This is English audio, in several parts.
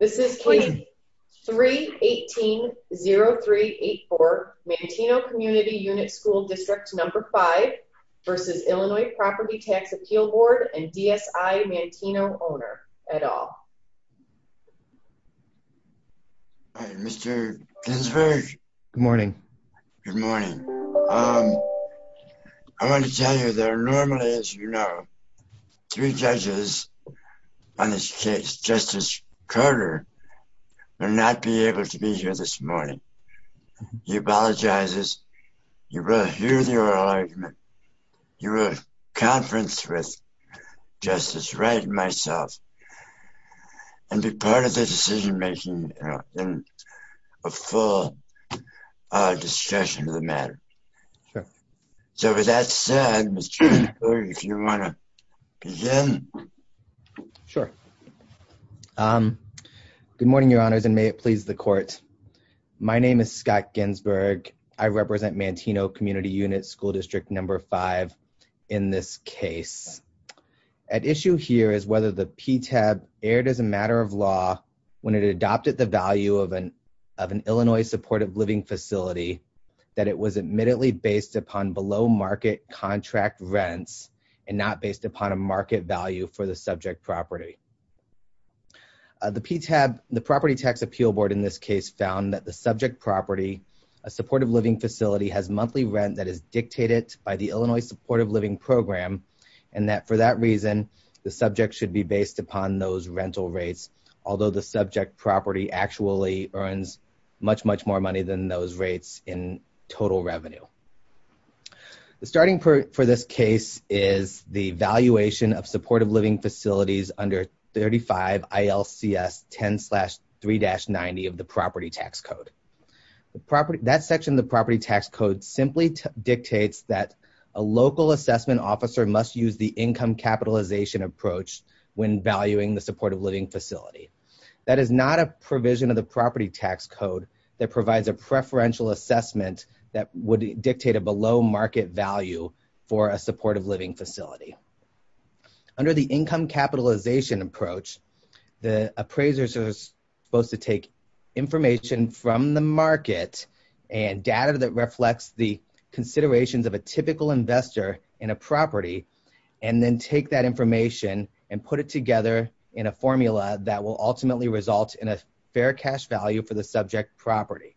This is Case 3-18-0384, Manteno Community Unit School District No. 5 v. IL Property Tax Appeal Board and DSI Manteno owner, et al. Mr. Ginsburg? Good morning. Good morning. I want to tell you, there are normally, as Carter will not be able to be here this morning. He apologizes. You will hear the oral argument. You will conference with Justice Wright and myself and be part of the decision-making and a full discussion of the matter. So with that said, Mr. Ginsburg, if you want to begin. Sure. Good morning, Your Honors, and may it please the Court. My name is Scott Ginsburg. I represent Manteno Community Unit School District No. 5 in this case. At issue here is whether the PTAB erred as a matter of law when it adopted the value of an Illinois supportive living facility that it was admittedly based upon below-market contract rents and not based a market value for the subject property. The PTAB, the Property Tax Appeal Board in this case, found that the subject property, a supportive living facility, has monthly rent that is dictated by the Illinois supportive living program and that for that reason, the subject should be based upon those rental rates, although the subject property actually earns much, much money than those rates in total revenue. The starting point for this case is the valuation of supportive living facilities under 35 ILCS 10-3-90 of the Property Tax Code. That section of the Property Tax Code simply dictates that a local assessment officer must use the income capitalization approach when valuing the supportive living facility. That is not a provision of the Property Tax Code that provides a preferential assessment that would dictate a below-market value for a supportive living facility. Under the income capitalization approach, the appraisers are supposed to take information from the market and data that reflects the considerations of a typical investor in a property and then take that information and put it together in a formula that will ultimately result in a fair cash value for the subject property.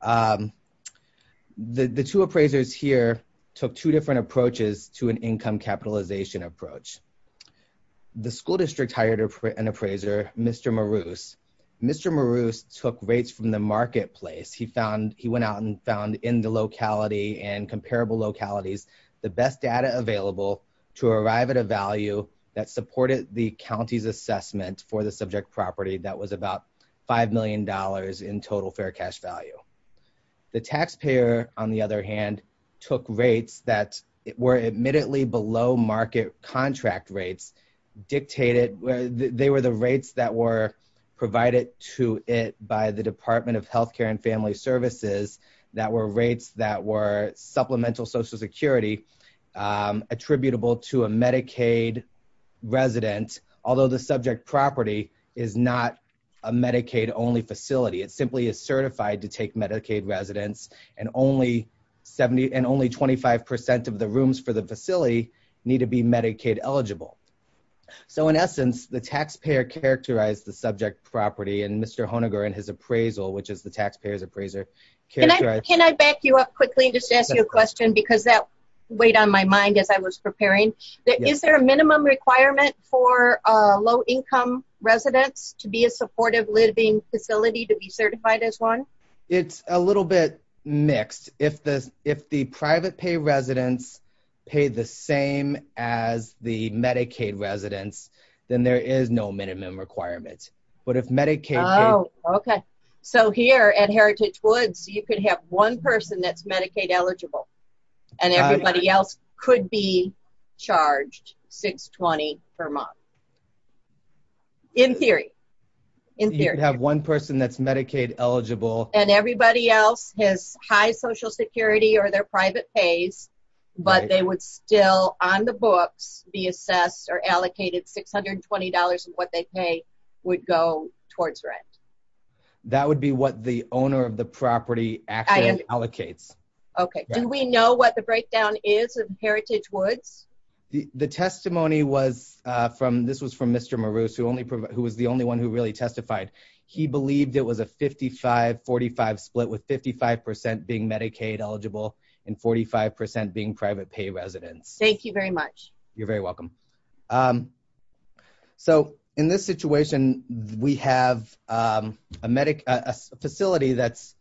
The two appraisers here took two different approaches to an income capitalization approach. The school district hired an appraiser, Mr. Maroos. Mr. Maroos took rates from the marketplace. He went out and found in the comparable localities the best data available to arrive at a value that supported the county's assessment for the subject property that was about $5 million in total fair cash value. The taxpayer, on the other hand, took rates that were admittedly below-market contract rates. They were the rates that were provided to it by the Department of Health Care and Family Services that were rates that were supplemental Social Security attributable to a Medicaid resident, although the subject property is not a Medicaid-only facility. It simply is certified to take Medicaid residents, and only 25 percent of the rooms for the facility need to be Medicaid eligible. In essence, the taxpayer characterized the subject property, and Mr. Honiger and his Can I back you up quickly and just ask you a question because that weighed on my mind as I was preparing. Is there a minimum requirement for low-income residents to be a supportive living facility to be certified as one? It's a little bit mixed. If the private pay residents pay the same as the Medicaid residents, then there is no minimum requirement. Here at Heritage Woods, you could have one person that's Medicaid eligible, and everybody else could be charged $620 per month, in theory. You could have one person that's Medicaid eligible. Everybody else has high Social Security or their private pays, but they would still, on the books, be assessed or allocated $620 of what they pay would go towards rent. That would be what the owner of the property actually allocates. Okay. Do we know what the breakdown is of Heritage Woods? The testimony was from Mr. Maroos, who was the only one who really testified. He believed it was a 55-45 split with 55 percent being Medicaid eligible and 45 percent being private pay residents. Thank you very much. You're very welcome. In this situation, we have a medical facility that's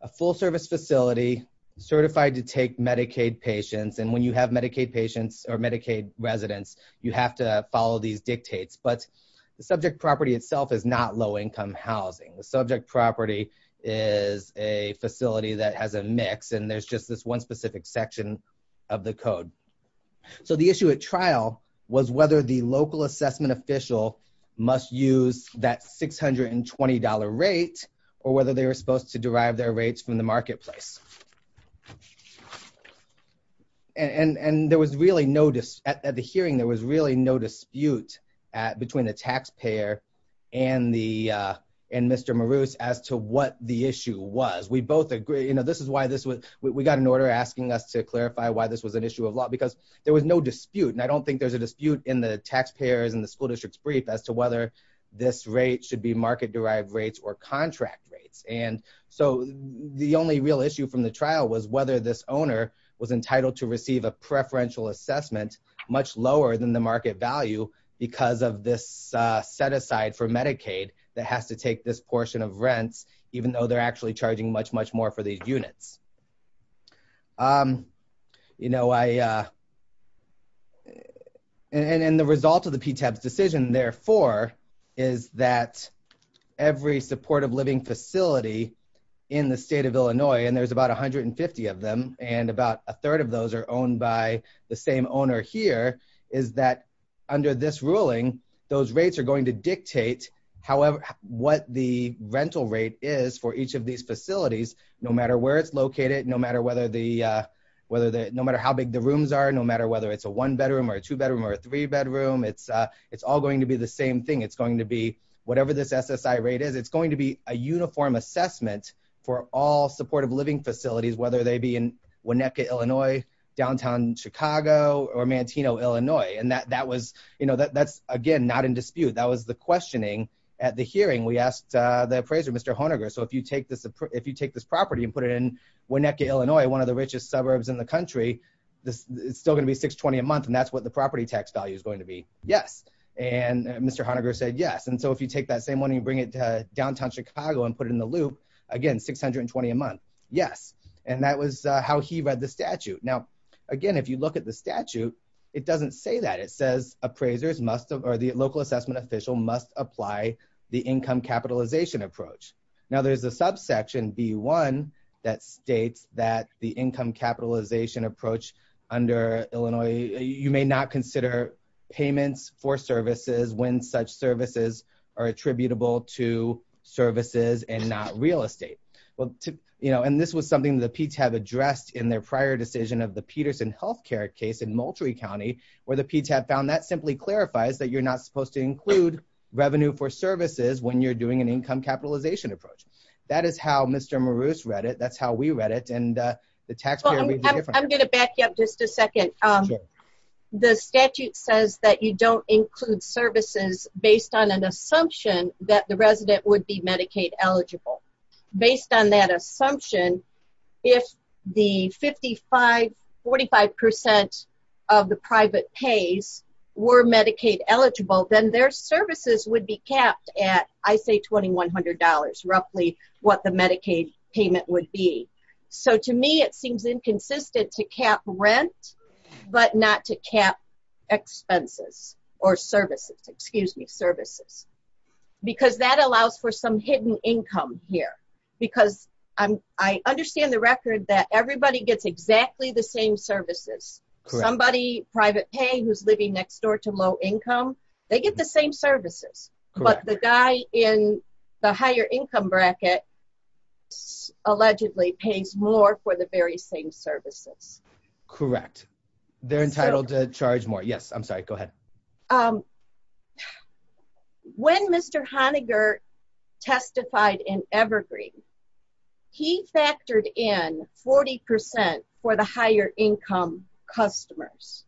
a full-service facility certified to take Medicaid patients. When you have Medicaid patients or Medicaid residents, you have to follow these dictates. The subject property itself is not low-income housing. The subject property is a facility that has a mix, and there's just this one specific section of the code. The issue at trial was whether the local assessment official must use that $620 rate or whether they were supposed to derive their rates from the marketplace. At the hearing, there was really no dispute between the taxpayer and Mr. Maroos as to issue was. We got an order asking us to clarify why this was an issue of law because there was no dispute. I don't think there's a dispute in the taxpayer's and the school district's brief as to whether this rate should be market-derived rates or contract rates. The only real issue from the trial was whether this owner was entitled to receive a preferential assessment much lower than the market value because of this set-aside for Medicaid that has to take this portion of the cost. The result of the PTEB's decision, therefore, is that every supportive living facility in the state of Illinois, and there's about 150 of them, and about a third of those are owned by the same owner here, is that under this ruling, those rates are going to dictate what the rental rate is for each of these facilities, no matter where it's located, no matter how big the rooms are, no matter whether it's a one-bedroom or a two-bedroom or a three-bedroom. It's all going to be the same thing. Whatever this SSI rate is, it's going to be a uniform assessment for all supportive living facilities, whether they be in Winnipeg, Illinois, downtown Chicago, or Manteno, Illinois. That's, again, not in dispute. That was the questioning at the hearing. We asked the appraiser, Mr. Honiger, if you take this property and put it in Winnipeg, Illinois, one of the richest suburbs in the country, it's still going to be $620 a month, and that's what the property tax value is going to be. Yes. Mr. Honiger said, yes. If you take that same one and you bring it to downtown Chicago and put it in the loop, again, $620 a month. Yes. That was how he read the statute. Now, again, if you look at the statute, it doesn't say that. It says appraisers must, or the local assessment official must apply the income capitalization approach. Now, there's a subsection, B1, that states that the income capitalization approach under Illinois, you may not consider payments for services when such services are attributable to services and not real estate. Well, and this was something that case in Moultrie County, where the PTAP found that simply clarifies that you're not supposed to include revenue for services when you're doing an income capitalization approach. That is how Mr. Maroos read it. That's how we read it, and the taxpayer would be different. I'm going to back you up just a second. The statute says that you don't include services based on an assumption that the resident would be Medicaid eligible. Based on that assumption, if the 45% of the private pays were Medicaid eligible, then their services would be capped at, I say, $2,100, roughly what the Medicaid payment would be. To me, it seems inconsistent to cap rent, but not to cap expenses or services, excuse me, services, because that allows for some hidden income here, because I understand the record that everybody gets exactly the same services. Somebody, private pay, who's living next door to low income, they get the same services, but the guy in the higher income bracket allegedly pays more for the very same services. Correct. They're entitled to charge more. Yes, I'm sorry. Go ahead. When Mr. Honiger testified in Evergreen, he factored in 40% for the higher income customers,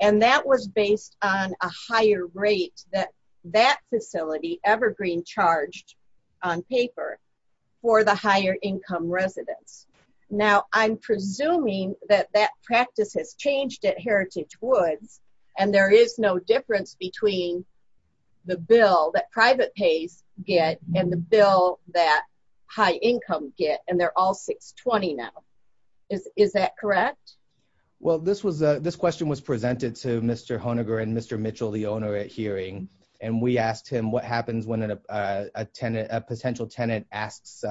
and that was based on a higher rate that that facility, Evergreen, charged on paper for the higher income residents. Now, I'm presuming that that practice has changed at Heritage Woods, and there is no difference between the bill that private pays get and the bill that high income get, and they're all $620 now. Is that correct? Well, this question was presented to Mr. Honiger and Mr. Mitchell, the owner, at hearing, and we asked him what happens when a potential tenant asks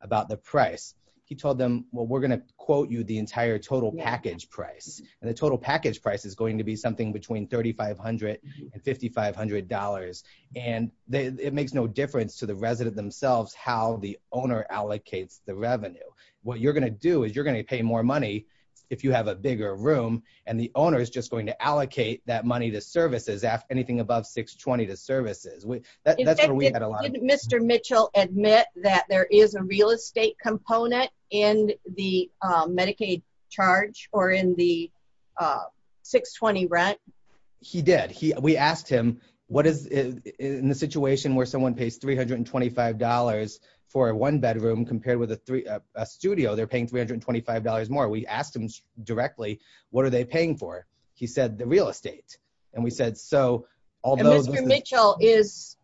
about the price. He told them, well, we're going to quote you the entire package price, and the total package price is going to be something between $3,500 and $5,500, and it makes no difference to the resident themselves how the owner allocates the revenue. What you're going to do is you're going to pay more money if you have a bigger room, and the owner is just going to allocate that money to services, anything above $620 to services. In fact, didn't Mr. Mitchell admit that there is a real estate component in the Medicaid charge or in the $620 rent? He did. We asked him, in the situation where someone pays $325 for a one-bedroom compared with a studio, they're paying $325 more. We asked him directly, what are they paying for? He said the real estate. Mr. Mitchell is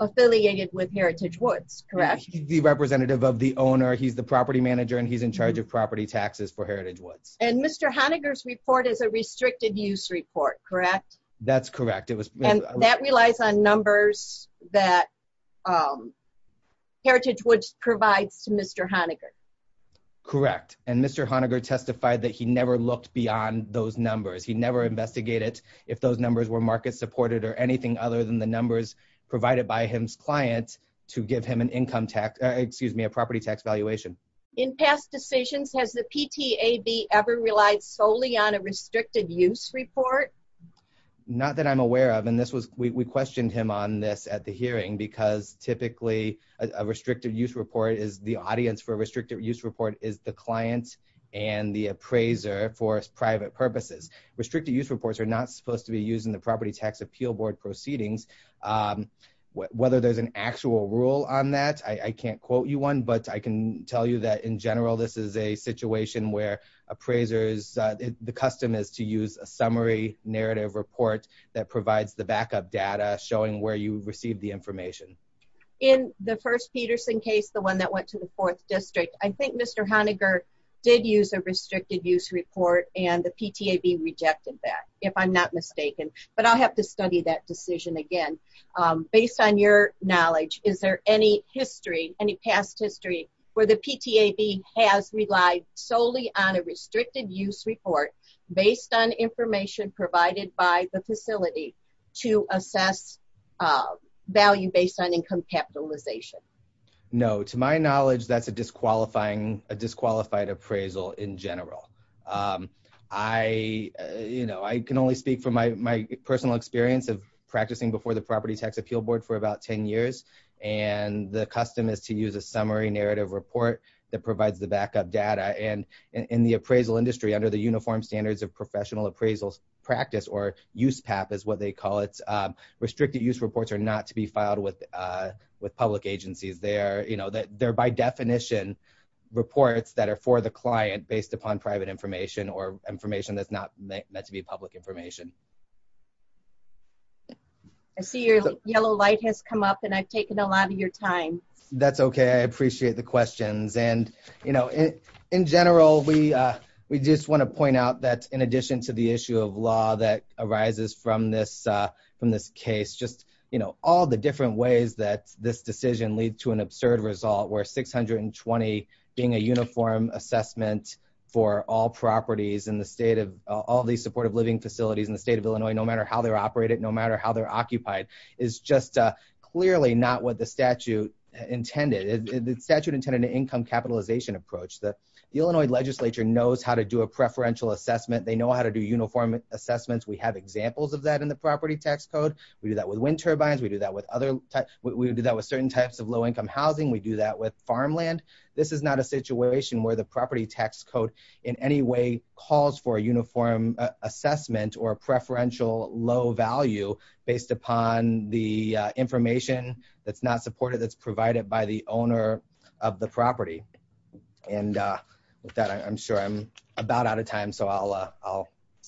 affiliated with Heritage Woods, correct? He's the representative of the owner. He's the property manager, and he's in charge of property taxes for Heritage Woods. Mr. Honiger's report is a restricted-use report, correct? That's correct. That relies on numbers that Heritage Woods provides to Mr. Honiger. Correct. Mr. Honiger testified that he never looked beyond those numbers. He never investigated if those numbers were market-supported or anything other than the numbers provided by his client to give him a property tax valuation. In past decisions, has the PTAB ever relied solely on a restricted-use report? Not that I'm aware of, we questioned him on this at the hearing because typically, a restricted-use report is the audience for a restricted-use report is the client and the appraiser for private purposes. Restricted-use reports are not supposed to be used in the property tax appeal board proceedings. Whether there's an actual rule on that, I can't quote you one, but I can tell you that in general, this is a situation where appraisers, the custom is to use a summary narrative report that provides the backup data showing where you received the information. In the first Peterson case, the one that went to the fourth district, I think Mr. Honiger did use a restricted-use report and the PTAB rejected that, if I'm not mistaken, but I'll have to study that decision again. Based on your knowledge, is there any history, any past history where the PTAB has relied solely on to assess value based on income capitalization? No. To my knowledge, that's a disqualified appraisal in general. I can only speak from my personal experience of practicing before the property tax appeal board for about 10 years and the custom is to use a summary narrative report that provides the backup data. In the appraisal industry, under the uniform standards of restricted-use reports are not to be filed with public agencies. They're by definition reports that are for the client based upon private information or information that's not meant to be public information. I see your yellow light has come up and I've taken a lot of your time. That's okay. I appreciate the questions. In general, we just want to point out that in this case, just all the different ways that this decision leads to an absurd result where 620 being a uniform assessment for all properties in the state of all these supportive living facilities in the state of Illinois, no matter how they're operated, no matter how they're occupied, is just clearly not what the statute intended. The statute intended an income capitalization approach that the Illinois legislature knows how to do a preferential assessment. They know how to uniform assessments. We have examples of that in the property tax code. We do that with wind turbines. We do that with certain types of low-income housing. We do that with farmland. This is not a situation where the property tax code in any way calls for a uniform assessment or a preferential low value based upon the information that's not supported, that's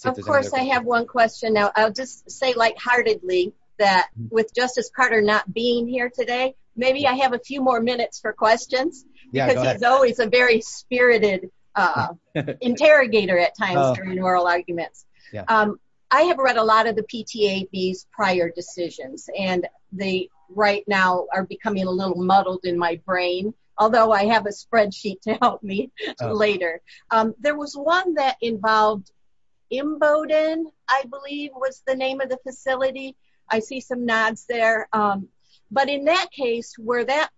Of course, I have one question. Now, I'll just say lightheartedly that with Justice Carter not being here today, maybe I have a few more minutes for questions because he's always a very spirited interrogator at times during oral arguments. I have read a lot of the PTAB's prior decisions and they right now are becoming a little muddled in my brain, although I have a spreadsheet to help me later. There was one that involved Imboden, I believe was the name of the facility. I see some nods there, but in that case where that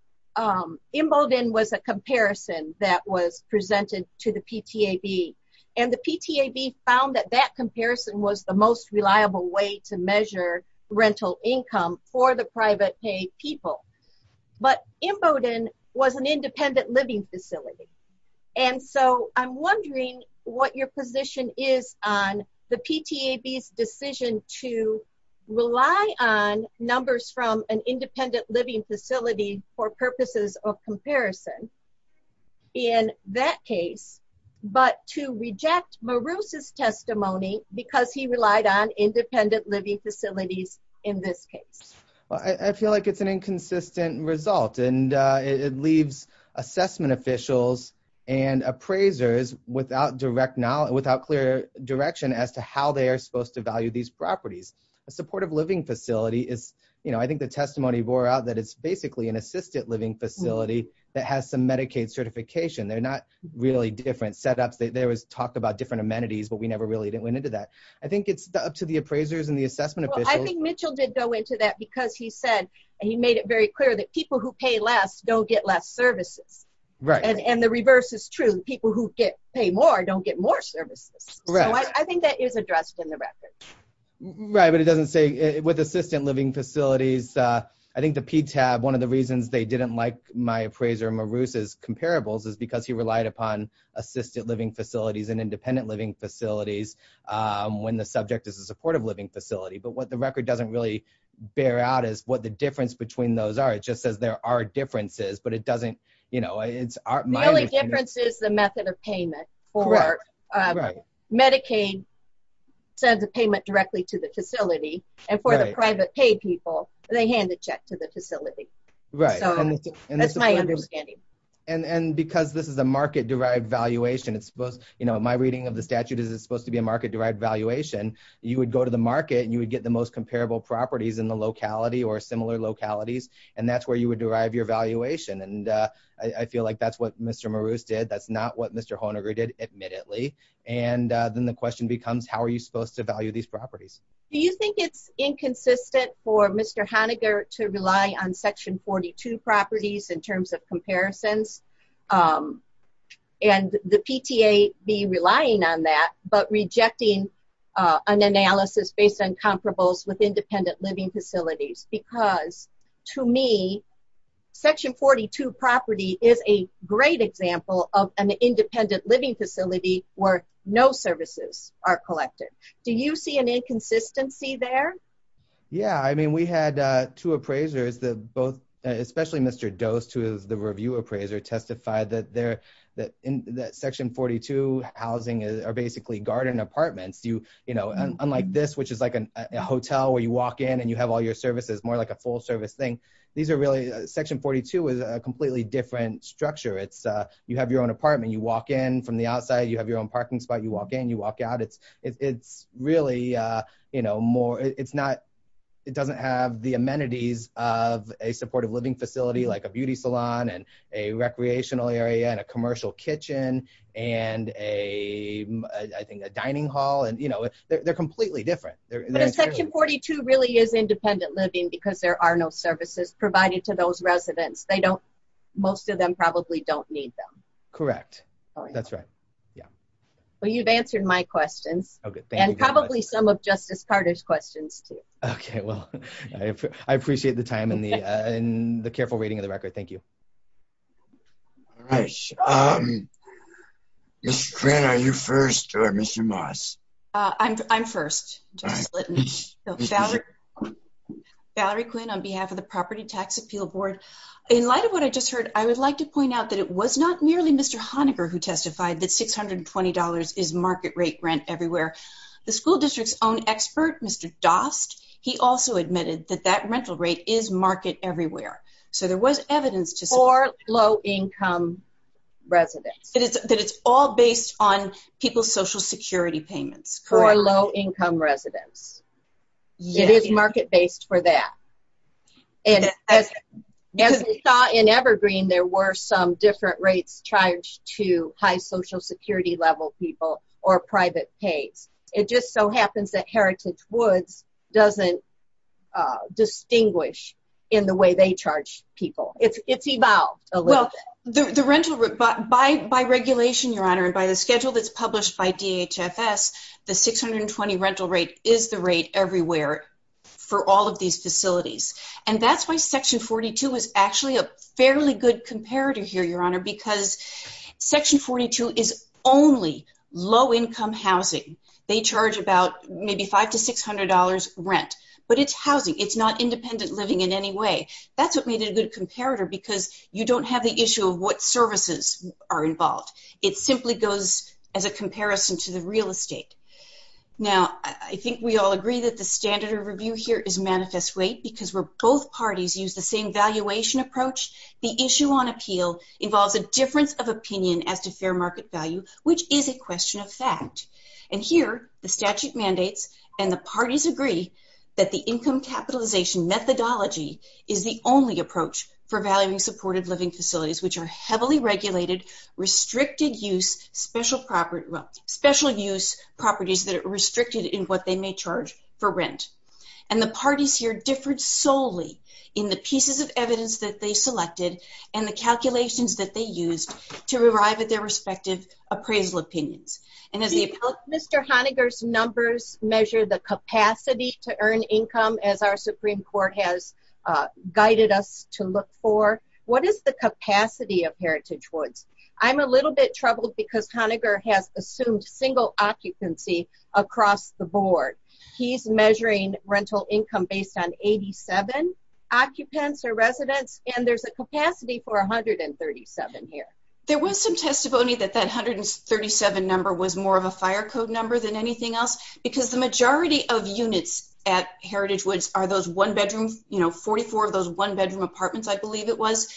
Imboden was a comparison that was presented to the PTAB and the PTAB found that that comparison was the most reliable way to measure rental income for the private pay people, but Imboden was an independent living facility. I'm wondering what your position is on the PTAB's decision to rely on numbers from an independent living facility for purposes of comparison in that case, but to reject Marousse's testimony because he relied on independent living facilities in this case. I feel like it's an inconsistent result and it leaves assessment officials and appraisers without direct knowledge, without clear direction as to how they are supposed to value these properties. A supportive living facility is, I think the testimony bore out that it's basically an assisted living facility that has some Medicaid certification. They're not really different setups. There was talk about different amenities, but we never really went into that. I think it's up to the appraisers and the assessment officials. I think Mitchell did go into that because he said, and he made it very clear that people who pay less don't get less services. The reverse is true. People who pay more don't get more services. I think that is addressed in the record. Right, but it doesn't say with assisted living facilities. I think the PTAB, one of the reasons they didn't like my appraiser Marousse's comparables is because he relied upon assisted living facilities and independent living facilities when the subject is a supportive living facility, but what the record doesn't really bear out is what the difference between those are. It just says there are differences, but it doesn't... The only difference is the method of payment. Medicaid sends a payment directly to the facility and for the private paid people, they hand the check to the facility. That's my understanding. Because this is a market-derived valuation, it's supposed... My reading of the statute is it's supposed to be a market-derived valuation. You would go to the market and you would get the most comparable properties in the locality or similar localities, and that's where you would derive your valuation. I feel like that's what Mr. Marousse did. That's not what Mr. Honegger did, admittedly. Then the question becomes, how are you supposed to value these properties? Do you think it's inconsistent for Mr. Honegger to rely on Section 42 properties in terms of comparisons and the PTA be relying on that, but rejecting an analysis based on comparables with independent living facilities? Because to me, Section 42 property is a great example of an inconsistency there. Yeah. We had two appraisers, especially Mr. Dost, who is the review appraiser, testified that Section 42 housing are basically garden apartments. Unlike this, which is like a hotel where you walk in and you have all your services, more like a full service thing, Section 42 is a completely different structure. You have your own apartment. You walk in from the outside. You have your own parking spot. You walk in, you walk out. It doesn't have the amenities of a supportive living facility like a beauty salon and a recreational area and a commercial kitchen and I think a dining hall. They're completely different. But is Section 42 really is independent living because there are no services provided to those Yeah. Well, you've answered my questions and probably some of Justice Carter's questions too. Okay. Well, I appreciate the time and the careful reading of the record. Thank you. All right. Ms. Quinn, are you first or Mr. Moss? I'm first. Valerie Quinn on behalf of the Property Tax Appeal Board. In light of what I just heard, I would like to point out that it was not merely Mr. Honegger who testified that $620 is market rate rent everywhere. The school district's own expert, Mr. Dost, he also admitted that that rental rate is market everywhere. So there was evidence to support... For low-income residents. That it's all based on people's social security payments. For low-income residents. It is market-based for that. And as we saw in Evergreen, there were some different rates charged to high social security level people or private pays. It just so happens that Heritage Woods doesn't distinguish in the way they charge people. It's evolved a little bit. Well, by regulation, Your Honor, and by the schedule that's published by DHFS, the $620 rental rate is the rate everywhere for all of these facilities. And that's why Section 42 is actually a fairly good comparator here, Your Honor, because Section 42 is only low-income housing. They charge about maybe $500 to $600 rent. But it's housing. It's not independent living in any way. That's what made it a good comparator because you don't have the issue of what services are involved. It simply goes as a comparison to the real estate. Now, I think we all agree that the standard of review here is manifest rate because where both parties use the same valuation approach, the issue on appeal involves a difference of opinion as to fair market value, which is a question of fact. And here, the statute mandates and the parties agree that the income capitalization methodology is the only approach for valuing supported living which are heavily regulated, restricted-use, special-use properties that are restricted in what they may charge for rent. And the parties here differed solely in the pieces of evidence that they selected and the calculations that they used to arrive at their respective appraisal opinions. And as the... Mr. Honiger's numbers measure the capacity to earn income as our of Heritage Woods. I'm a little bit troubled because Honiger has assumed single occupancy across the board. He's measuring rental income based on 87 occupants or residents and there's a capacity for 137 here. There was some testimony that that 137 number was more of a fire code number than anything else because the majority of units at Heritage Woods are those one-bedroom, 44 of those one-bedroom apartments, I believe it was.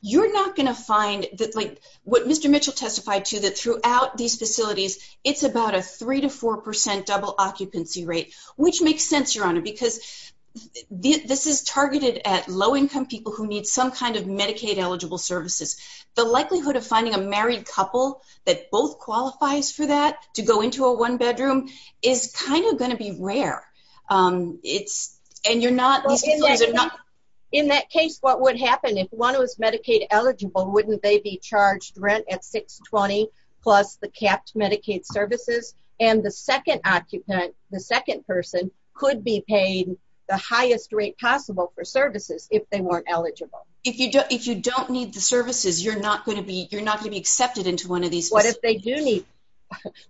You're not going to find that like what Mr. Mitchell testified to that throughout these facilities, it's about a three to four percent double occupancy rate, which makes sense, Your Honor, because this is targeted at low-income people who need some kind of Medicaid-eligible services. The likelihood of finding a married couple that both qualifies for that to go into a one-bedroom is kind of going to be rare. It's... and you're not... In that case, what would happen if one was Medicaid-eligible, wouldn't they be charged rent at $620 plus the capped Medicaid services? And the second occupant, the second person, could be paid the highest rate possible for services if they weren't eligible. If you don't need the services, you're not going to be accepted into one of these... What if they do need?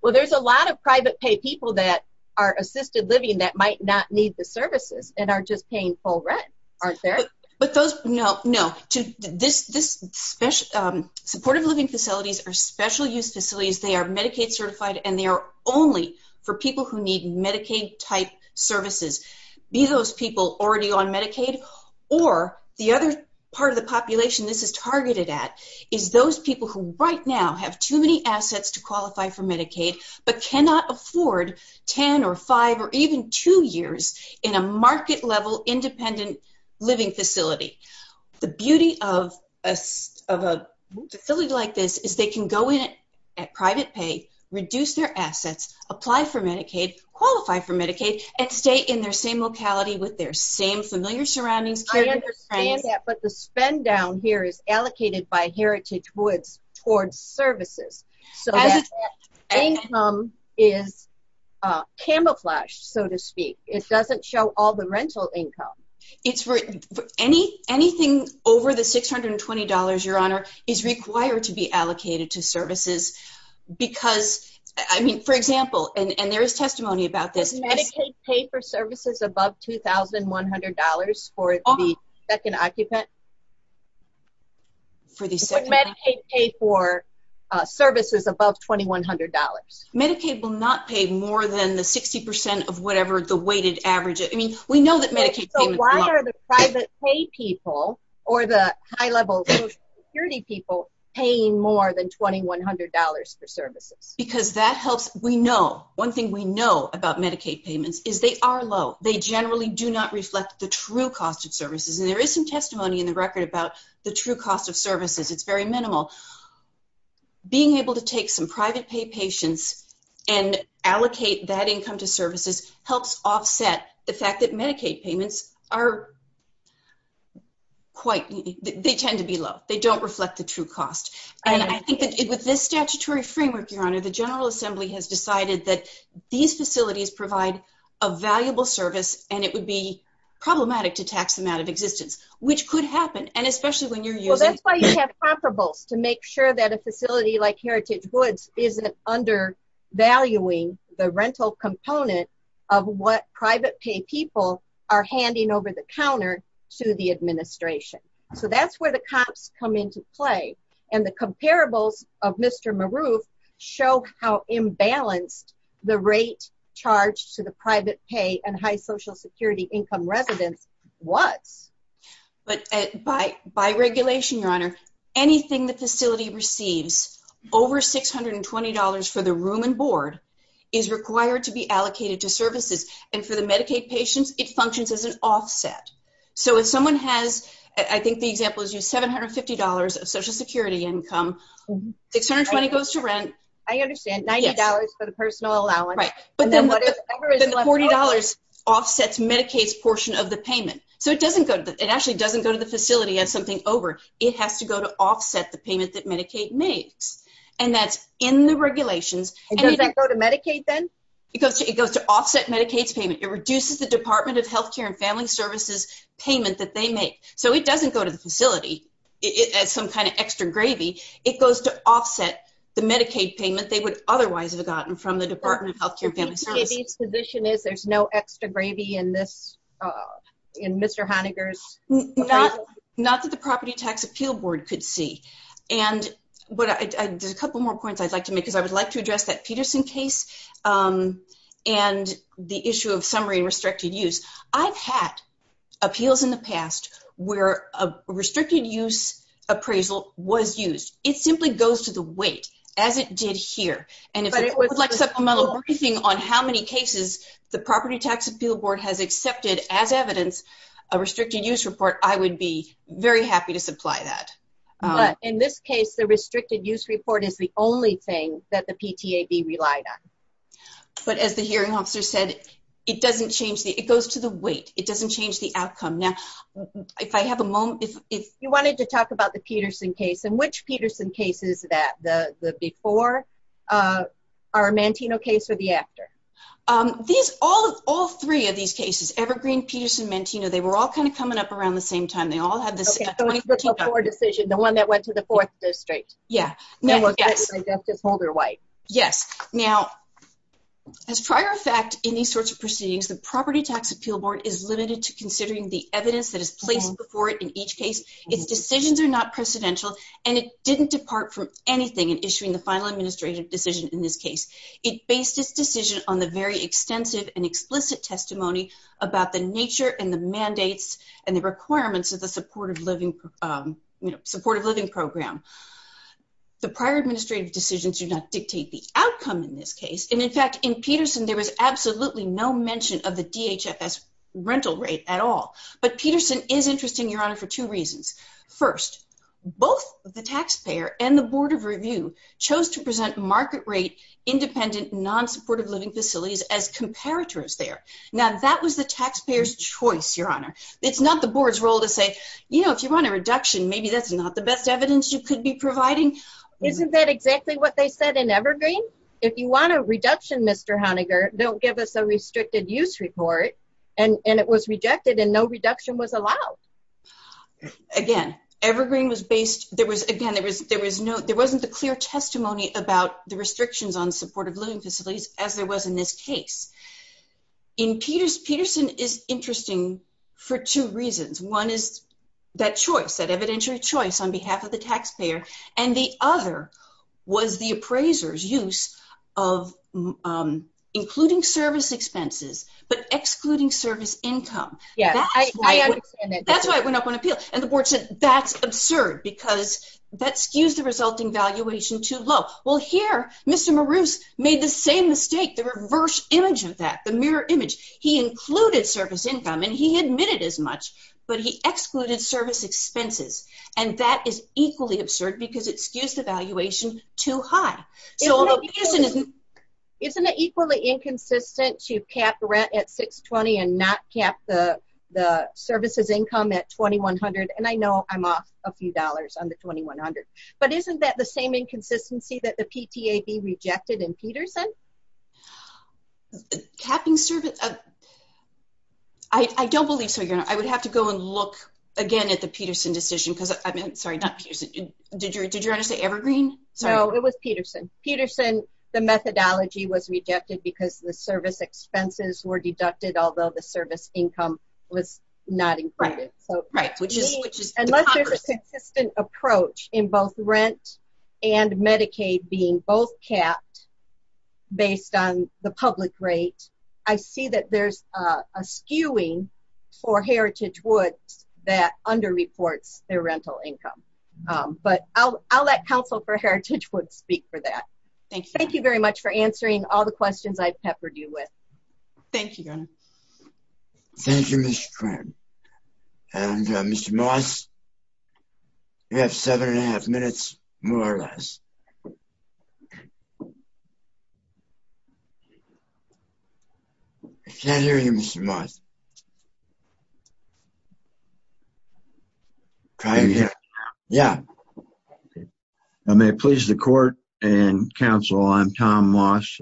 Well, there's a lot of private pay people that are assisted living that might not need the services and are just paying full rent, aren't there? But those... No, no. This special... Supportive living facilities are special use facilities. They are Medicaid-certified and they are only for people who need Medicaid-type services, be those people already on Medicaid or the other part of the population this is targeted at is those people who right now have too many assets to qualify for Medicaid but cannot afford 10 or 5 or even 2 years in a market-level independent living facility. The beauty of a facility like this is they can go in at private pay, reduce their assets, apply for Medicaid, qualify for Medicaid, and stay in their same locality with their same familiar surroundings. I understand that, but the spend down here is allocated by Heritage Woods towards services so that income is camouflaged, so to speak. It doesn't show all the rental income. It's for... Anything over the $620, Your Honor, is required to be allocated to services because... I mean, for example, and there is testimony about this... Does Medicaid pay for services above $2,100 for the second occupant? Would Medicaid pay for services above $2,100? Medicaid will not pay more than the 60% of whatever the weighted average... I mean, we know that Medicaid payment... So, why are the private pay people or the high-level Social Security people paying more than $2,100 for services? Because that helps... We know... One thing we know about Medicaid payments is they are low. They generally do not reflect the true cost of services and there is some testimony in the record about the true cost of services. It's very minimal. Being able to take some private pay patients and allocate that income to services helps offset the fact that Medicaid payments are quite... They tend to be low. They don't reflect the true cost. And I think that with this statutory framework, Your Honor, the General Assembly has decided that these facilities provide a valuable service and it would be problematic to tax them out of existence, which could happen, and especially when you're using... Well, that's why you have comparables to make sure that a facility like Heritage Goods isn't undervaluing the rental component of what private pay people are handing over the counter to the administration. So, that's where the comps come into play. And the comparables of Mr. Maroof show how imbalanced the rate charged to the private pay and high Social Security income was. But by regulation, Your Honor, anything the facility receives over $620 for the room and board is required to be allocated to services. And for the Medicaid patients, it functions as an offset. So, if someone has, I think the example is you, $750 of Social Security income, $620 goes to rent. I understand. $90 for the personal allowance. Right. But then the $40 offsets Medicaid's portion of the payment. So, it actually doesn't go to the facility as something over. It has to go to offset the payment that Medicaid makes. And that's in the regulations. And does that go to Medicaid then? It goes to offset Medicaid's payment. It reduces the Department of Healthcare and Family Services payment that they make. So, it doesn't go to the facility as some kind of extra gravy. It goes to offset the Medicaid payment they would otherwise have gotten from the Department of Healthcare and Family Services. So, Medicaid's position is there's no extra gravy in Mr. Heinegger's? Not that the Property Tax Appeal Board could see. And there's a couple more points I'd like to make because I would like to address that Peterson case and the issue of summary and restricted use. I've had appeals in the past where a restricted use appraisal was used. It simply goes to the briefing on how many cases the Property Tax Appeal Board has accepted as evidence a restricted use report. I would be very happy to supply that. In this case, the restricted use report is the only thing that the PTAB relied on. But as the hearing officer said, it doesn't change. It goes to the weight. It doesn't change the outcome. Now, if I have a moment. If you wanted to talk about the Peterson case and which the after? All three of these cases, Evergreen, Peterson, and Mantino, they were all kind of coming up around the same time. The one that went to the fourth district. Yes. Now, as prior effect in these sorts of proceedings, the Property Tax Appeal Board is limited to considering the evidence that is placed before it in each case. Its decisions are not precedential and it didn't depart from anything in issuing the final administrative decision in this case. It based its decision on the very extensive and explicit testimony about the nature and the mandates and the requirements of the supportive living program. The prior administrative decisions do not dictate the outcome in this case. And in fact, in Peterson, there was absolutely no mention of the DHFS rental rate at all. But Peterson is interesting, Your Honor, for two reasons. First, both the taxpayer and the Board of Review chose to present market rate independent, non-supportive living facilities as comparators there. Now, that was the taxpayer's choice, Your Honor. It's not the board's role to say, you know, if you want a reduction, maybe that's not the best evidence you could be providing. Isn't that exactly what they said in Evergreen? If you want a reduction, Mr. Honegger, don't give us a restricted use report. And it was again, Evergreen was based, there was, again, there was no, there wasn't a clear testimony about the restrictions on supportive living facilities as there was in this case. In Peters, Peterson is interesting for two reasons. One is that choice, that evidentiary choice on behalf of the taxpayer. And the other was the appraiser's use of including service expenses, but excluding service income. Yes, I understand that. That's why it went up on appeal. And the board said, that's absurd because that skews the resulting valuation too low. Well, here, Mr. Maroos made the same mistake, the reverse image of that, the mirror image. He included service income and he admitted as much, but he excluded service expenses. And that is equally absurd because it skews the 620 and not cap the services income at 2100. And I know I'm off a few dollars on the 2100. But isn't that the same inconsistency that the PTAB rejected in Peterson? Capping service, I don't believe so. I would have to go and look again at the Peterson decision because I mean, sorry, not Peterson. Did you, did you want to say Evergreen? No, it was Peterson. Peterson, the methodology was rejected because the service expenses were deducted, although the service income was not included. So right, which is, which is consistent approach in both rent and Medicaid being both capped based on the public rate. I see that there's a skewing for Heritage Woods that under reports their rental income. But I'll, I'll let council for Heritage Woods speak for that. Thank you very much for answering all the questions I've peppered you with. Thank you. Thank you, Mr. Krantz. And Mr. Moss, you have seven and a half minutes, more or less. I can't hear you, Mr. Moss. I may please the court and council. I'm Tom Moss,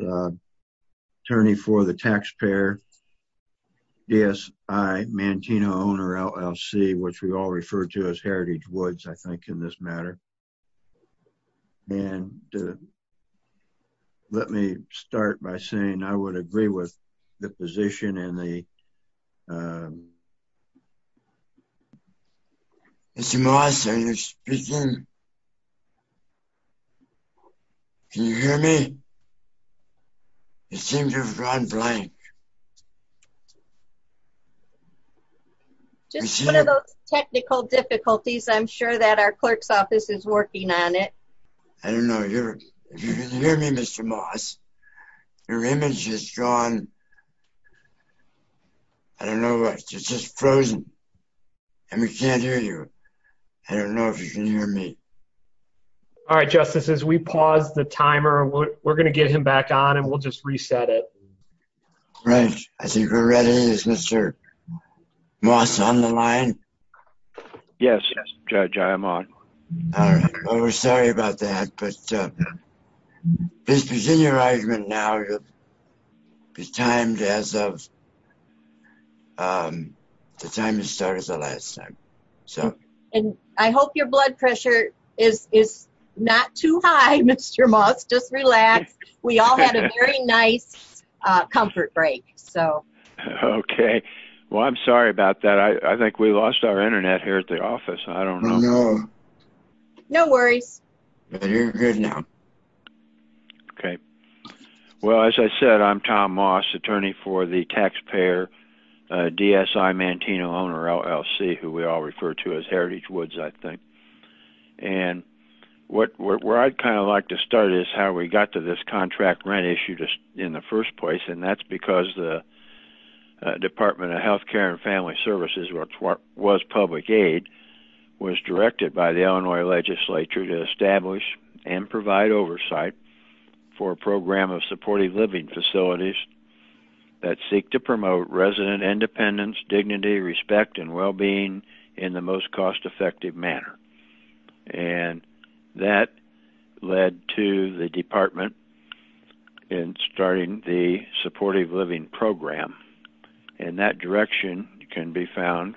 attorney for the taxpayer. Yes, I Mantino owner LLC, which we all refer to as Heritage Woods, I think in this matter. And let me start by saying I would agree with the position and the Mr. Moss, are you speaking? Can you hear me? It seems to have gone blank. Just one of those technical difficulties. I'm sure that our clerk's office is working on it. I don't know. You're hearing me, Mr. Moss. Your image is gone. I don't know what just frozen. And we can't hear you. I don't know if you can hear me. All right, justices, we pause the timer. We're going to get him back on and we'll just reset it. Right. I think we're ready. Is Mr. Moss on the line? Yes, Judge, I am on. All right. Well, we're sorry about that. But please continue your argument now. It's timed as of the time you started the last time. And I hope your blood pressure is not too high, Mr. Moss. Just relax. We all had a very nice comfort break. Okay. Well, I'm sorry about that. I think we lost our Internet here at the office. I don't know. No worries. You're good now. Okay. Well, as I said, I'm Tom Moss, attorney for the taxpayer, DSI, Mantino owner LLC, who we all refer to as Heritage Woods, I think. And where I'd kind of like to start is how we got to this contract rent issue in the first place. And that's because the Department of Health Care and Family Services, which was public aid, was directed by the Illinois legislature to establish and provide oversight for a program of supportive living facilities that seek to promote resident independence, dignity, respect, and well-being in the most cost-effective manner. And that led to the department in starting the supportive living program. And that direction can be found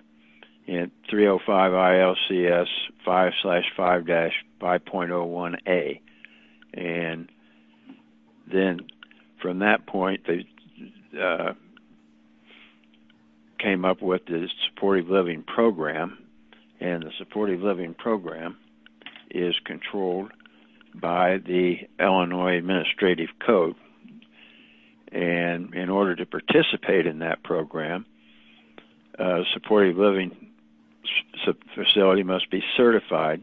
in 305 ILCS 5-5.01a. And then from that point, they came up with the supportive living program. And the supportive living program is controlled by the Illinois Administrative Code. And in order to participate in that program, a supportive living facility must be certified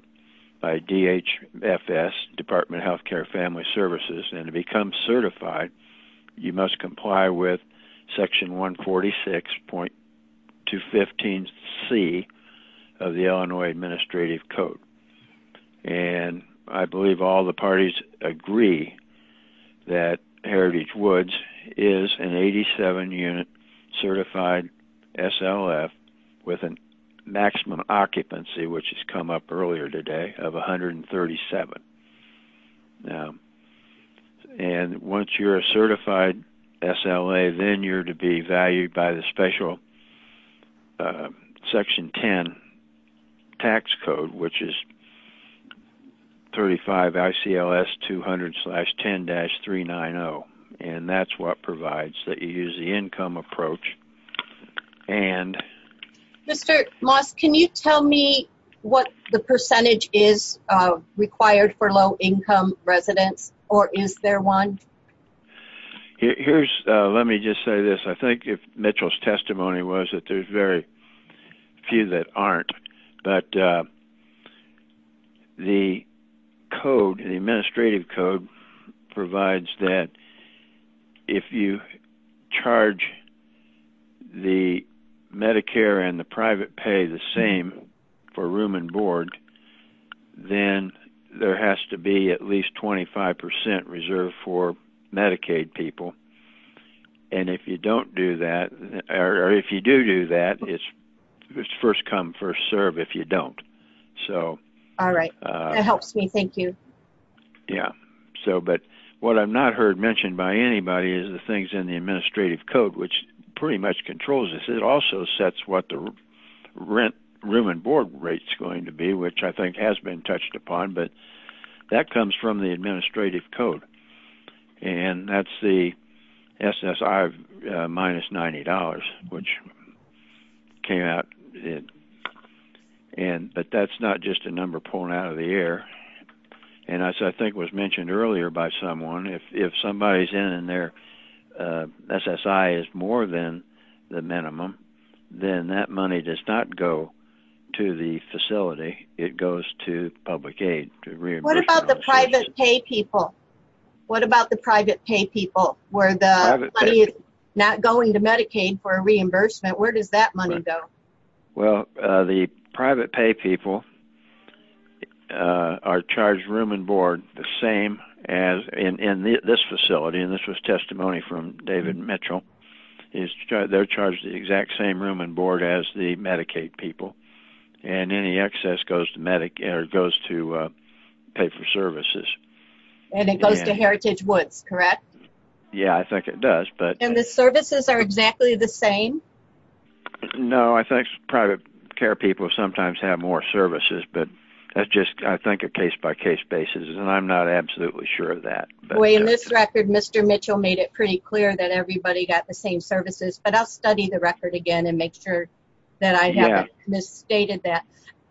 by DHFS, Department of Health Care and Family Services. And to become certified, you must comply with section 146.215c of the Illinois Administrative Code. And I believe all the parties agree that Heritage Woods is an 87-unit certified SLF with a maximum occupancy, which has come up earlier today, of 137. And once you're a certified SLA, then you're to be valued by the special section 10 tax code, which is 35 ICLS 200-10-390. And that's what provides that you use the income approach. And... Mr. Moss, can you tell me what the percentage is required for low-income residents? Or is there one? Here's... Let me just say this. I think if Mitchell's testimony was that there's very few that aren't. But the code, the administrative code, provides that if you charge the Medicare and the private pay the same for room and board, then there has to be at least 25% reserved for Medicaid people. And if you don't do that, or if you do do that, it's first come, first serve if you don't. So... All right. That helps by anybody is the things in the administrative code, which pretty much controls this. It also sets what the rent room and board rate's going to be, which I think has been touched upon. But that comes from the administrative code. And that's the SSI of minus $90, which came out. But that's not just a number pulling out of the air. And as I think was mentioned earlier by someone, if somebody's in and their SSI is more than the minimum, then that money does not go to the facility. It goes to public aid. What about the private pay people? What about the private pay people where the money is not going to Medicaid for a reimbursement? Where does that money go? Well, the private pay people are charged room and board the same as in this facility. And this was testimony from David Mitchell. They're charged the exact same room and board as the Medicaid people. And any excess goes to pay for services. And it goes to Heritage Woods, correct? Yeah, I think it does. And the services are exactly the same? No. I think private care people sometimes have more services. But that's just, I think, a case-by-case basis. And I'm not absolutely sure of that. Boy, in this record, Mr. Mitchell made it pretty clear that everybody got the same services. But I'll study the record again and make sure that I haven't misstated that.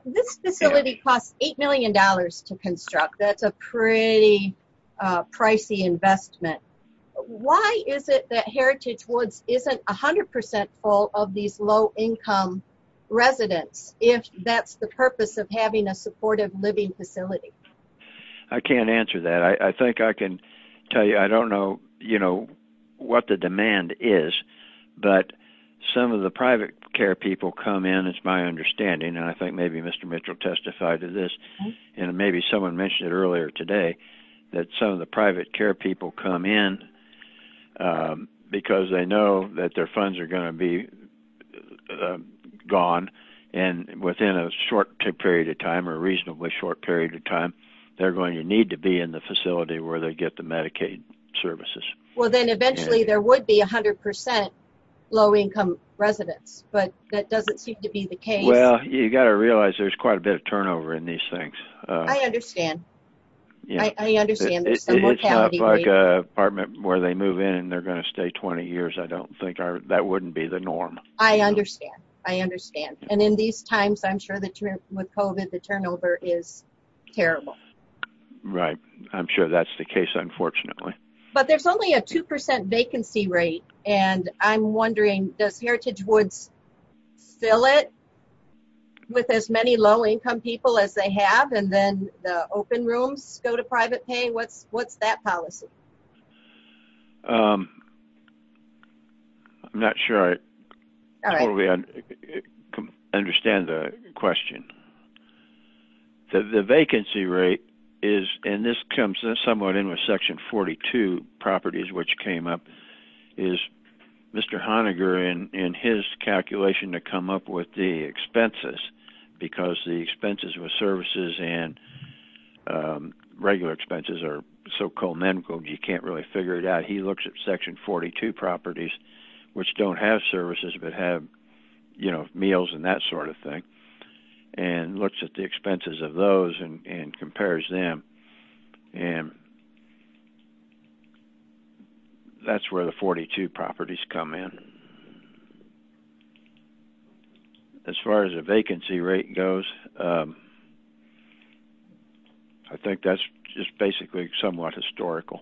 This facility costs $8 million to construct. That's a pretty pricey investment. Why is it that Heritage Woods isn't 100% full of these low-income residents, if that's the purpose of having a supportive living facility? I can't answer that. I think I can tell you, I don't know what the demand is. But some of the private care people come in, it's my understanding, and I think maybe Mr. Mitchell testified to this, and maybe someone mentioned it earlier today, that some of the private care people come in because they know that their funds are going to be gone. And within a short period of time, or a reasonably short period of time, they're going to need to be in the facility where they get the Medicaid services. Well, then eventually there would be 100% low-income residents. But that doesn't seem to be the case. Well, you've got to realize there's quite a bit of turnover in these things. I understand. I understand. It's not like an apartment where they move in, and they're going to stay 20 years. I don't think that wouldn't be the norm. I understand. I understand. And in these times, I'm sure that with COVID, the turnover is terrible. Right. I'm sure that's the case, unfortunately. But there's only a 2% vacancy rate, and I'm open rooms go to private pay. What's that policy? I'm not sure I understand the question. The vacancy rate is, and this comes somewhat in with Section 42 properties, which came up, is Mr. Honiger and his calculation to come up with the and regular expenses are so economical, you can't really figure it out. He looks at Section 42 properties, which don't have services, but have meals and that sort of thing, and looks at the expenses of those and compares them. And that's where the 42 properties come in. And as far as the vacancy rate goes, I think that's just basically somewhat historical.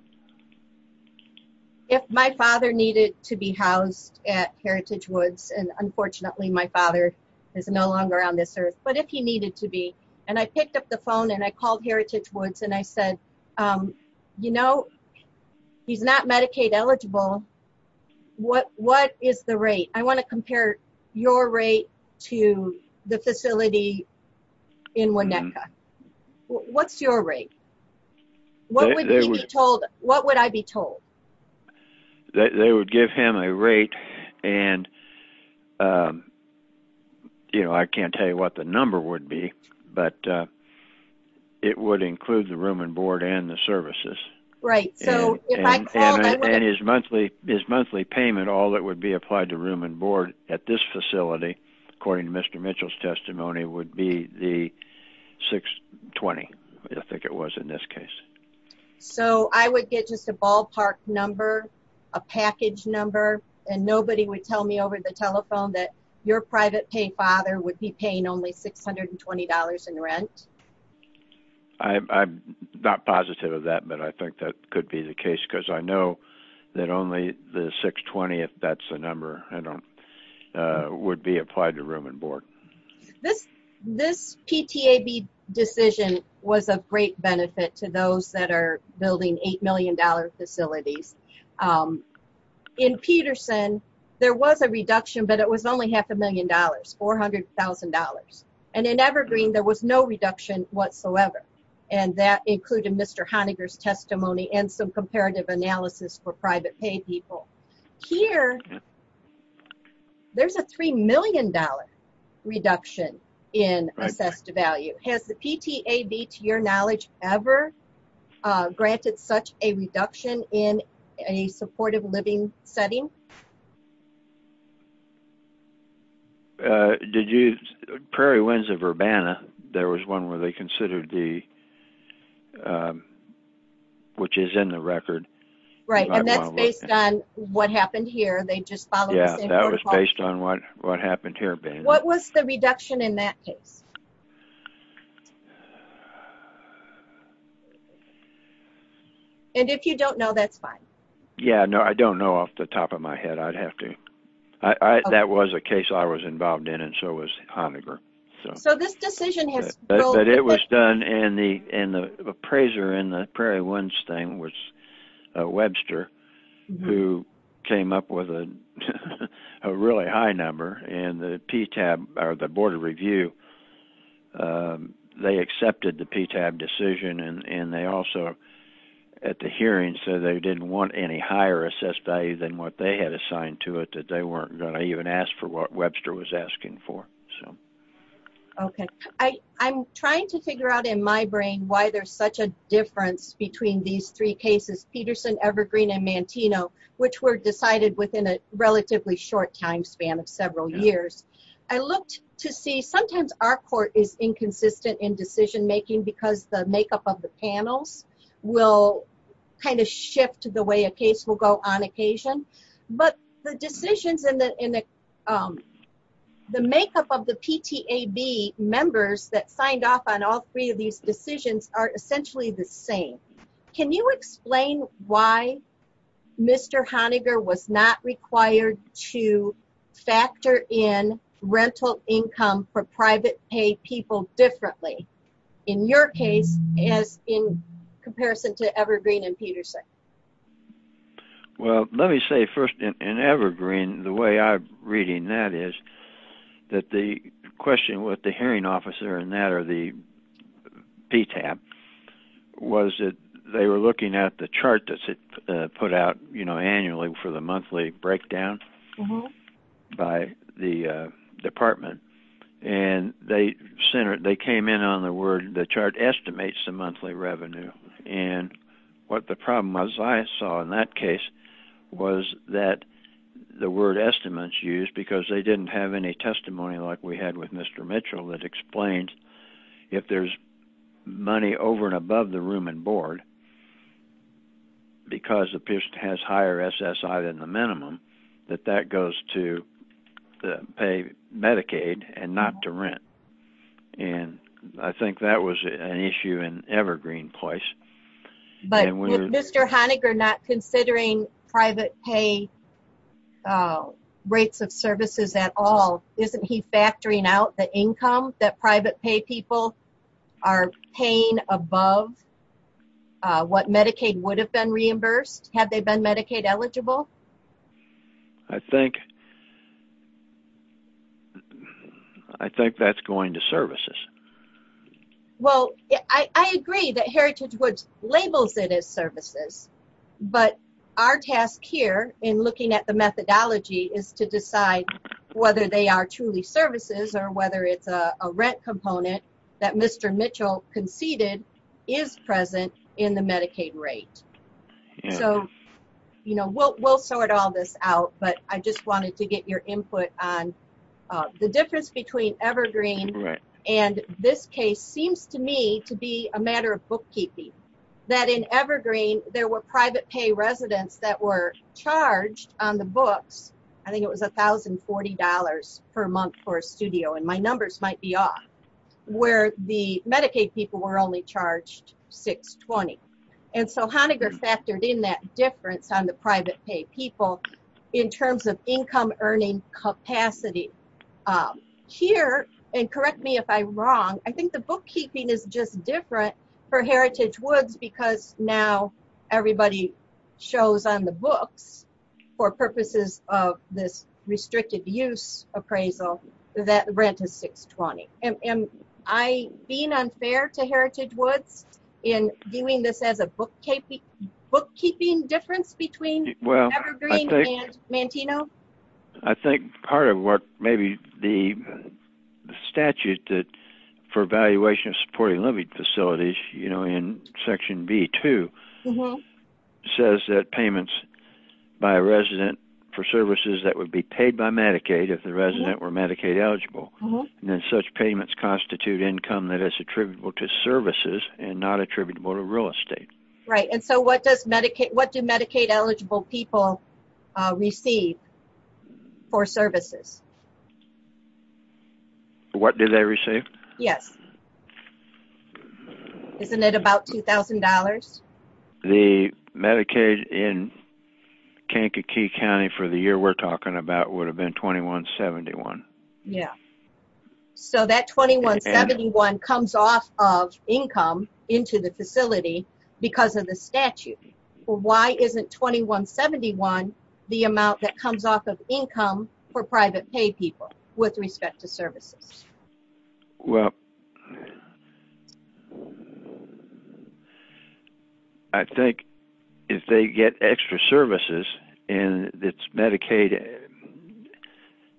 If my father needed to be housed at Heritage Woods, and unfortunately, my father is no longer on this earth, but if he needed to be, and I picked up the phone, and I called Heritage Woods, and I said, you know, he's not Medicaid eligible. What is the rate? I want to compare your rate to the facility in Winnetka. What's your rate? What would I be told? They would give him a rate, and, you know, I can't tell you what the number would be, but it would include the room and board and the services. Right. And his monthly payment, all that would be applied to room and board at this facility, according to Mr. Mitchell's testimony, would be the 620, I think it was in this case. So I would get just a ballpark number, a package number, and nobody would tell me over the telephone that your private pay father would be paying only $620 in rent. I'm not positive of that, but I think that could be the case, because I know that only the 620, if that's the number, would be applied to room and board. This PTAB decision was a great benefit to those that are building $8 million facilities. In Peterson, there was a reduction, but it was only half a million dollars, $400,000. And in Evergreen, there was no reduction whatsoever, and that included Mr. Honiger's testimony and some comparative analysis for private pay people. Here, there's a $3 million reduction in assessed value. Has the PTAB, to your knowledge, ever granted such a reduction in a supportive living setting? Did you, Prairie Windsor-Urbana, there was one where they considered the, which is in the record. Right, and that's based on what happened here. They just followed the same protocol. Yeah, that was based on what happened here. What was the reduction in that case? And if you don't know, that's fine. Yeah, no, I don't know off the top of my head. I'd have to. That was a case I was involved in, and so was Honiger. So this decision has... But it was done, and the appraiser in the Prairie Winds thing was Webster, who came up with a really high number, and the PTAB, or the Board of Review, they accepted the PTAB decision, and they also, at the hearing, said they didn't want any higher assessed value than what they had assigned to it, that they weren't going to even ask for what Webster was asking for. Okay, I'm trying to figure out in my brain why there's such a difference between these cases, Peterson, Evergreen, and Mantino, which were decided within a relatively short time span of several years. I looked to see, sometimes our court is inconsistent in decision making because the makeup of the panels will kind of shift the way a case will go on occasion, but the decisions and the makeup of the PTAB members that signed off on all three of these cases, did you explain why Mr. Honiger was not required to factor in rental income for private pay people differently, in your case, as in comparison to Evergreen and Peterson? Well, let me say first, in Evergreen, the way I'm reading that is that the question with the hearing officer and that, or the PTAB, was that they were looking at the chart that's put out annually for the monthly breakdown by the department, and they came in on the word, the chart estimates the monthly revenue, and what the problem was, I saw in that case, was that the word estimates used, because they didn't have any testimony like we had with Mr. Mitchell, that explains if there's money over and above the room and board, because the person has higher SSI than the minimum, that that goes to pay Medicaid and not to rent, and I think that was an issue in Evergreen place. But with Mr. Honiger not considering private pay rates of services at all, isn't he factoring out the income that private pay people are paying above what Medicaid would have been reimbursed? Have they been Medicaid eligible? I think that's going to services. Well, I agree that Heritage Woods labels it as services, but our task here, in looking at the methodology, is to decide whether they are truly services or whether it's a rent component that Mr. Mitchell conceded is present in the Medicaid rate. So, you know, we'll sort all this out, but I just wanted to get your input on the difference between Evergreen and this case seems to me to be a matter of bookkeeping, that in Evergreen there were on the books, I think it was $1,040 per month for a studio, and my numbers might be off, where the Medicaid people were only charged $620. And so Honiger factored in that difference on the private pay people in terms of income earning capacity. Here, and correct me if I'm wrong, I think the bookkeeping is just different for Heritage Woods, because now everybody shows on the books for purposes of this restricted use appraisal that rent is $620. Am I being unfair to Heritage Woods in viewing this as a bookkeeping difference between Evergreen and Manteno? I think part of what maybe the statute for evaluation of supporting living facilities, you know, in section B-2, says that payments by a resident for services that would be paid by Medicaid if the resident were Medicaid eligible, and that such payments constitute income that is attributable to services and not attributable to real estate. Right, and so what do Medicaid eligible people receive for services? What do they receive? Yes. Isn't it about $2,000? The Medicaid in Kankakee County for the year we're talking about would have been $21.71. Yeah. So that $21.71 comes off of income into the facility because of the statute. Well, why isn't $21.71 the amount that comes off of income for private pay people with respect to services? Well, I think if they get extra services and it's Medicaid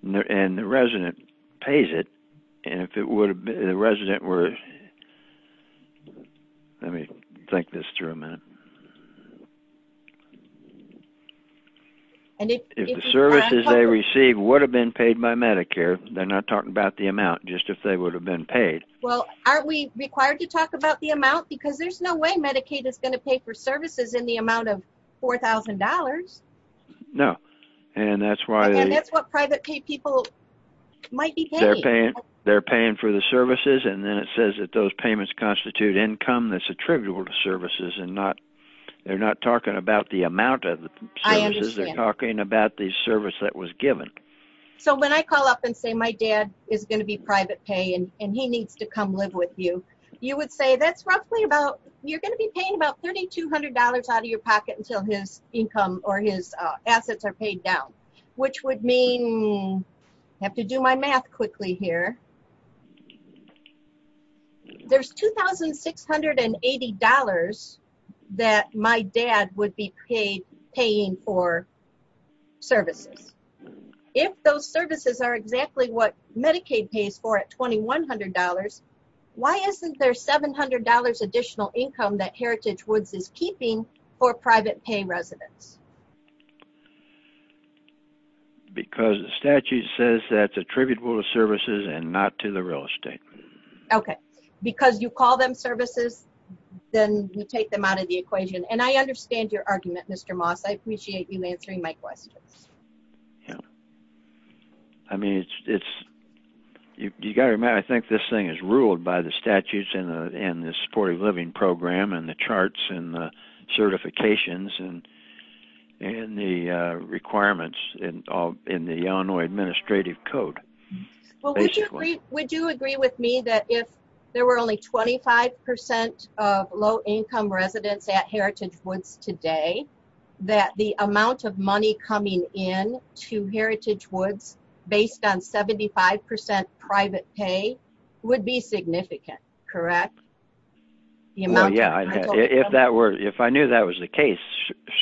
and the resident pays it, and if the resident were, let me think this through a minute. If the services they receive would have been paid by Medicare, they're not talking about the amount, just if they would have been paid. Well, aren't we required to talk about the amount? Because there's no way Medicaid is going to pay for services in the amount of $4,000. No, and that's why... And that's what private pay people might be paying. They're paying for the services, and then it says that those payments constitute income that's attributable to services. They're not talking about the amount of services, they're talking about the service that was given. So when I call up and say, my dad is going to be private pay and he needs to come live with you, you would say that's roughly about, you're going to be paying about $3,200 out of your pocket until his income or his assets are paid down, which would mean... I have to do my math quickly here. There's $2,680 that my dad would be paying for services. If those services are exactly what Medicaid pays for at $2,100, why isn't there $700 additional income that Heritage Woods is keeping for private pay residents? Because the statute says that's attributable to services and not private pay. Not to the real estate. Okay. Because you call them services, then you take them out of the equation. And I understand your argument, Mr. Moss. I appreciate you answering my questions. Yeah. I mean, you've got to remember, I think this thing is ruled by the statutes in the Supportive Living Program and the charts and the certifications and the requirements in the Illinois Administrative Code. Well, would you agree with me that if there were only 25% of low-income residents at Heritage Woods today, that the amount of money coming in to Heritage Woods based on 75% private pay would be significant, correct? Well, yeah. If I knew that was the case,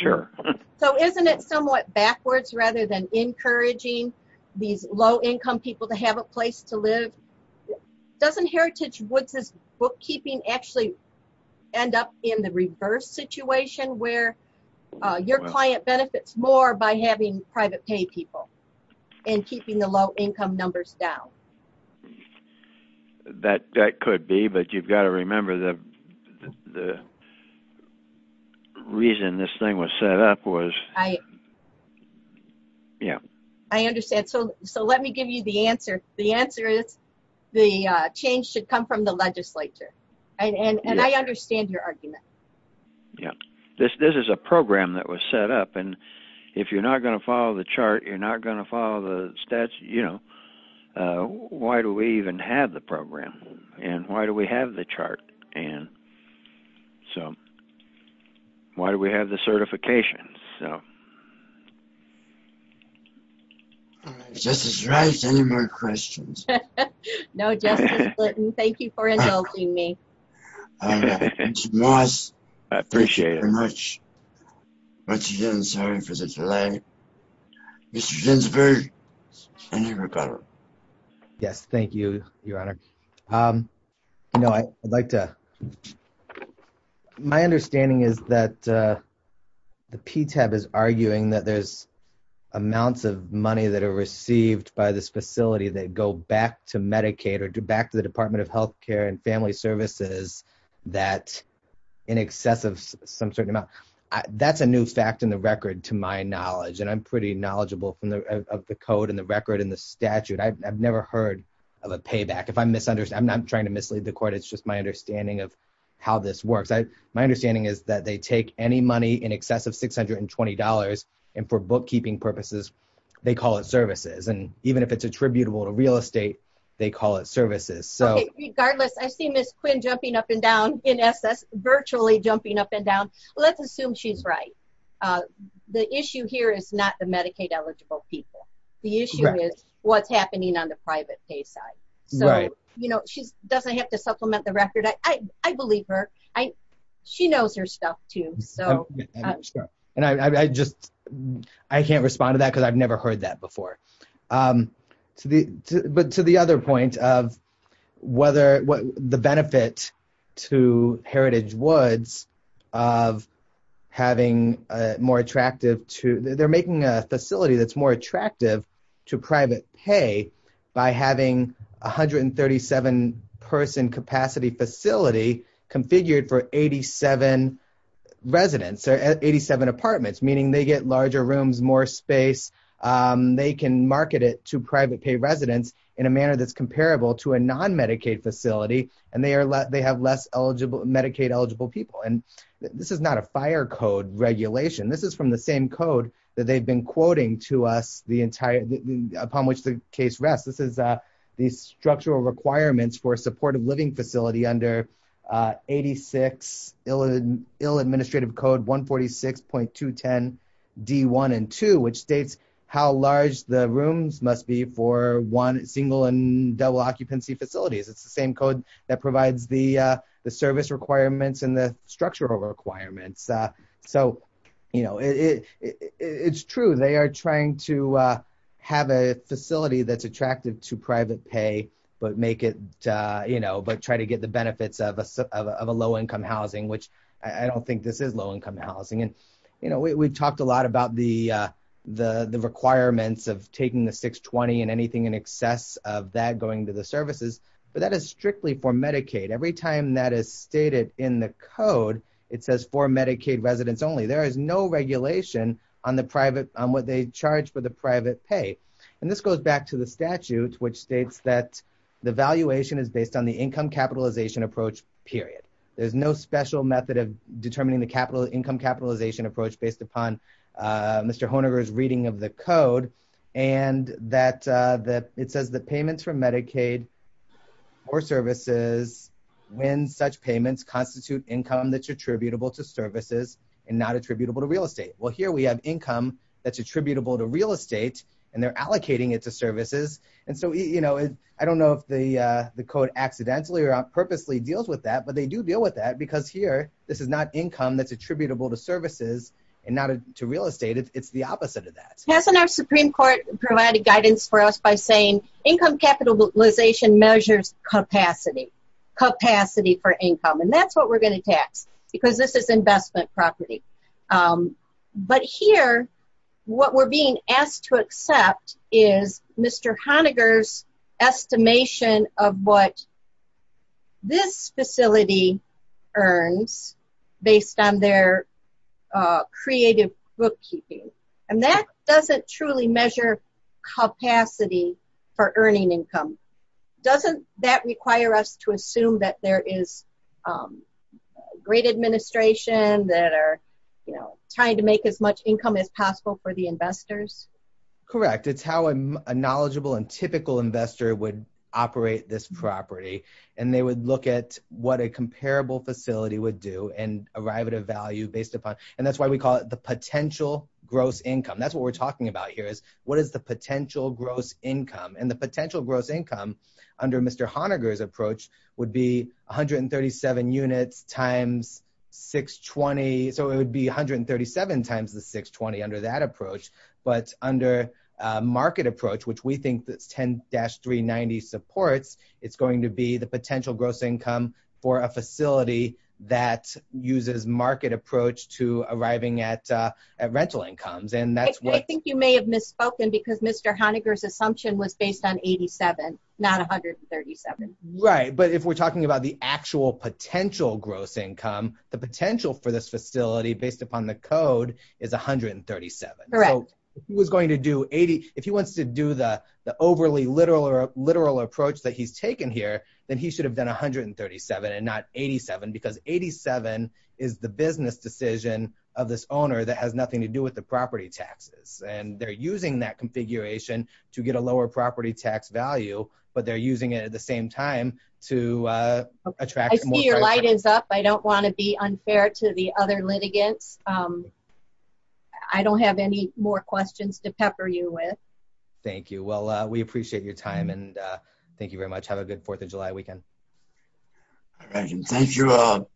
sure. So isn't it somewhat backwards rather than encouraging these low-income people to have a place to live? Doesn't Heritage Woods' bookkeeping actually end up in the reverse situation where your client benefits more by having private pay people and keeping the low-income numbers down? Well, that could be. But you've got to remember the reason this thing was set up was... Yeah. I understand. So let me give you the answer. The answer is the change should come from the legislature. And I understand your argument. Yeah. This is a program that was set up. And if you're not going to follow the chart, you're not going to follow the statutes, you know. Why do we even have the program? And why do we have the chart? And so why do we have the certification? Justice Wright, any more questions? No, Justice Blanton. Thank you for indulging me. All right. Thank you, Moss. I appreciate it. Once again, sorry for the delay. Mr. Ginsburg, any rebuttal? Yes. Thank you, Your Honor. You know, I'd like to... My understanding is that the PTAB is arguing that there's amounts of money that are received by this facility that go back to Medicaid or back to the Department of Health Care and Family Services that in excess of some certain amount. That's a new fact in the record to my knowledge. And I'm pretty knowledgeable of the code and the record and the statute. I've never heard of a payback. I'm not trying to mislead the court. It's just my understanding of how this works. My understanding is that they take any money in excess of $620 and for bookkeeping purposes, they call it services. And even if it's attributable to real estate, they call it services. Okay. Regardless, I see Ms. Quinn jumping up and down, NSS, virtually jumping up and down. Let's assume she's right. The issue here is not the Medicaid eligible people. The issue is what's happening on the private pay side. Right. So, you know, she doesn't have to supplement the record. I believe her. She knows her stuff too, so... And I just... I can't respond to that because I've never heard that before. But to the other point of whether... The benefit to Heritage Woods of having a more attractive to... They're making a facility that's more attractive to private pay by having 137-person capacity facility configured for 87 residents or 87 apartments, meaning they get larger rooms, more space. They can market it to private pay residents in a manner that's comparable to a non-Medicaid facility. And they have less Medicaid eligible people. And this is not a fire code regulation. This is from the same code that they've been quoting to us the entire... Upon which the case rests. This is the structural requirements for a supportive living facility under 86 Ill Administrative Code 146.210 D1 and 2, which states how large the rooms must be for one single and double occupancy facilities. It's the same code that provides the service requirements and the structural requirements. So, you know, it's true. They are trying to have a facility that's attractive to private pay, but try to get the benefits of a low-income housing, which I don't think this is low-income housing. And, you know, we talked a lot about the requirements of taking the 620 and anything in excess of that going to the services, but that is strictly for Medicaid. Every time that is stated in the code, it says for Medicaid residents only. There is no regulation on what they charge for the private pay. And this goes back to the statute, which states that the valuation is based on the income capitalization approach, period. There's no special method of determining the income capitalization approach based upon Mr. Honegger's reading of the code. And it says that payments from Medicaid or services, when such payments constitute income that's attributable to services and not attributable to real estate. Well, here we have income that's attributable to real estate and they're allocating it to services. And so, you know, I don't know if the code accidentally or purposely deals with that, but they do deal with that because here, this is not income that's attributable to services and not to real estate. It's the opposite of that. Hasn't our Supreme Court provided guidance for us by saying income capitalization measures capacity, capacity for income. And that's what we're going to tax because this is investment property. But here, what we're being asked to accept is Mr. Honegger's estimation of what this facility earns based on their creative bookkeeping. And that doesn't truly measure capacity for earning income. Doesn't that require us to assume that there is great administration that are, you know, trying to make as much income as possible for the investors? Correct. It's how a knowledgeable and typical investor would operate this property. And they would look at what a comparable facility would do and arrive at a value based upon. And that's why we call it the potential gross income. That's what we're talking about here is what is the potential gross income? And the potential gross income under Mr. Honegger's approach would be 137 units times 620. So it would be 137 times the 620 under that approach. But under a market approach, which we think that's 10-390 supports, it's going to be the potential gross income for a facility that uses market approach to arriving at rental incomes. And that's what I think you may have misspoken because Mr. Honegger's assumption was based on 87, not 137. Right. But if we're talking about the actual potential gross income, the potential for this facility based upon the code is 137. If he wants to do the overly literal or literal approach that he's taken here, then he should have done 137 and not 87 because 87 is the business decision of this owner that has nothing to do with the property taxes. And they're using that configuration to get a lower property tax value, but they're using it at the same time to attract- I see your light is up. I don't want to be unfair to the other litigants. I don't have any more questions to pepper you with. Thank you. Well, we appreciate your time. And thank you very much. Have a good 4th of July weekend. All right. And thank you all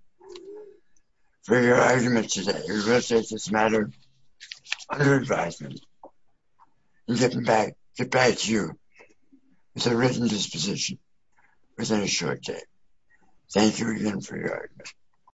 for your arguments today. It really does matter. Under advisement, I'm getting back to you with a written disposition within a short time. Thank you again for your argument.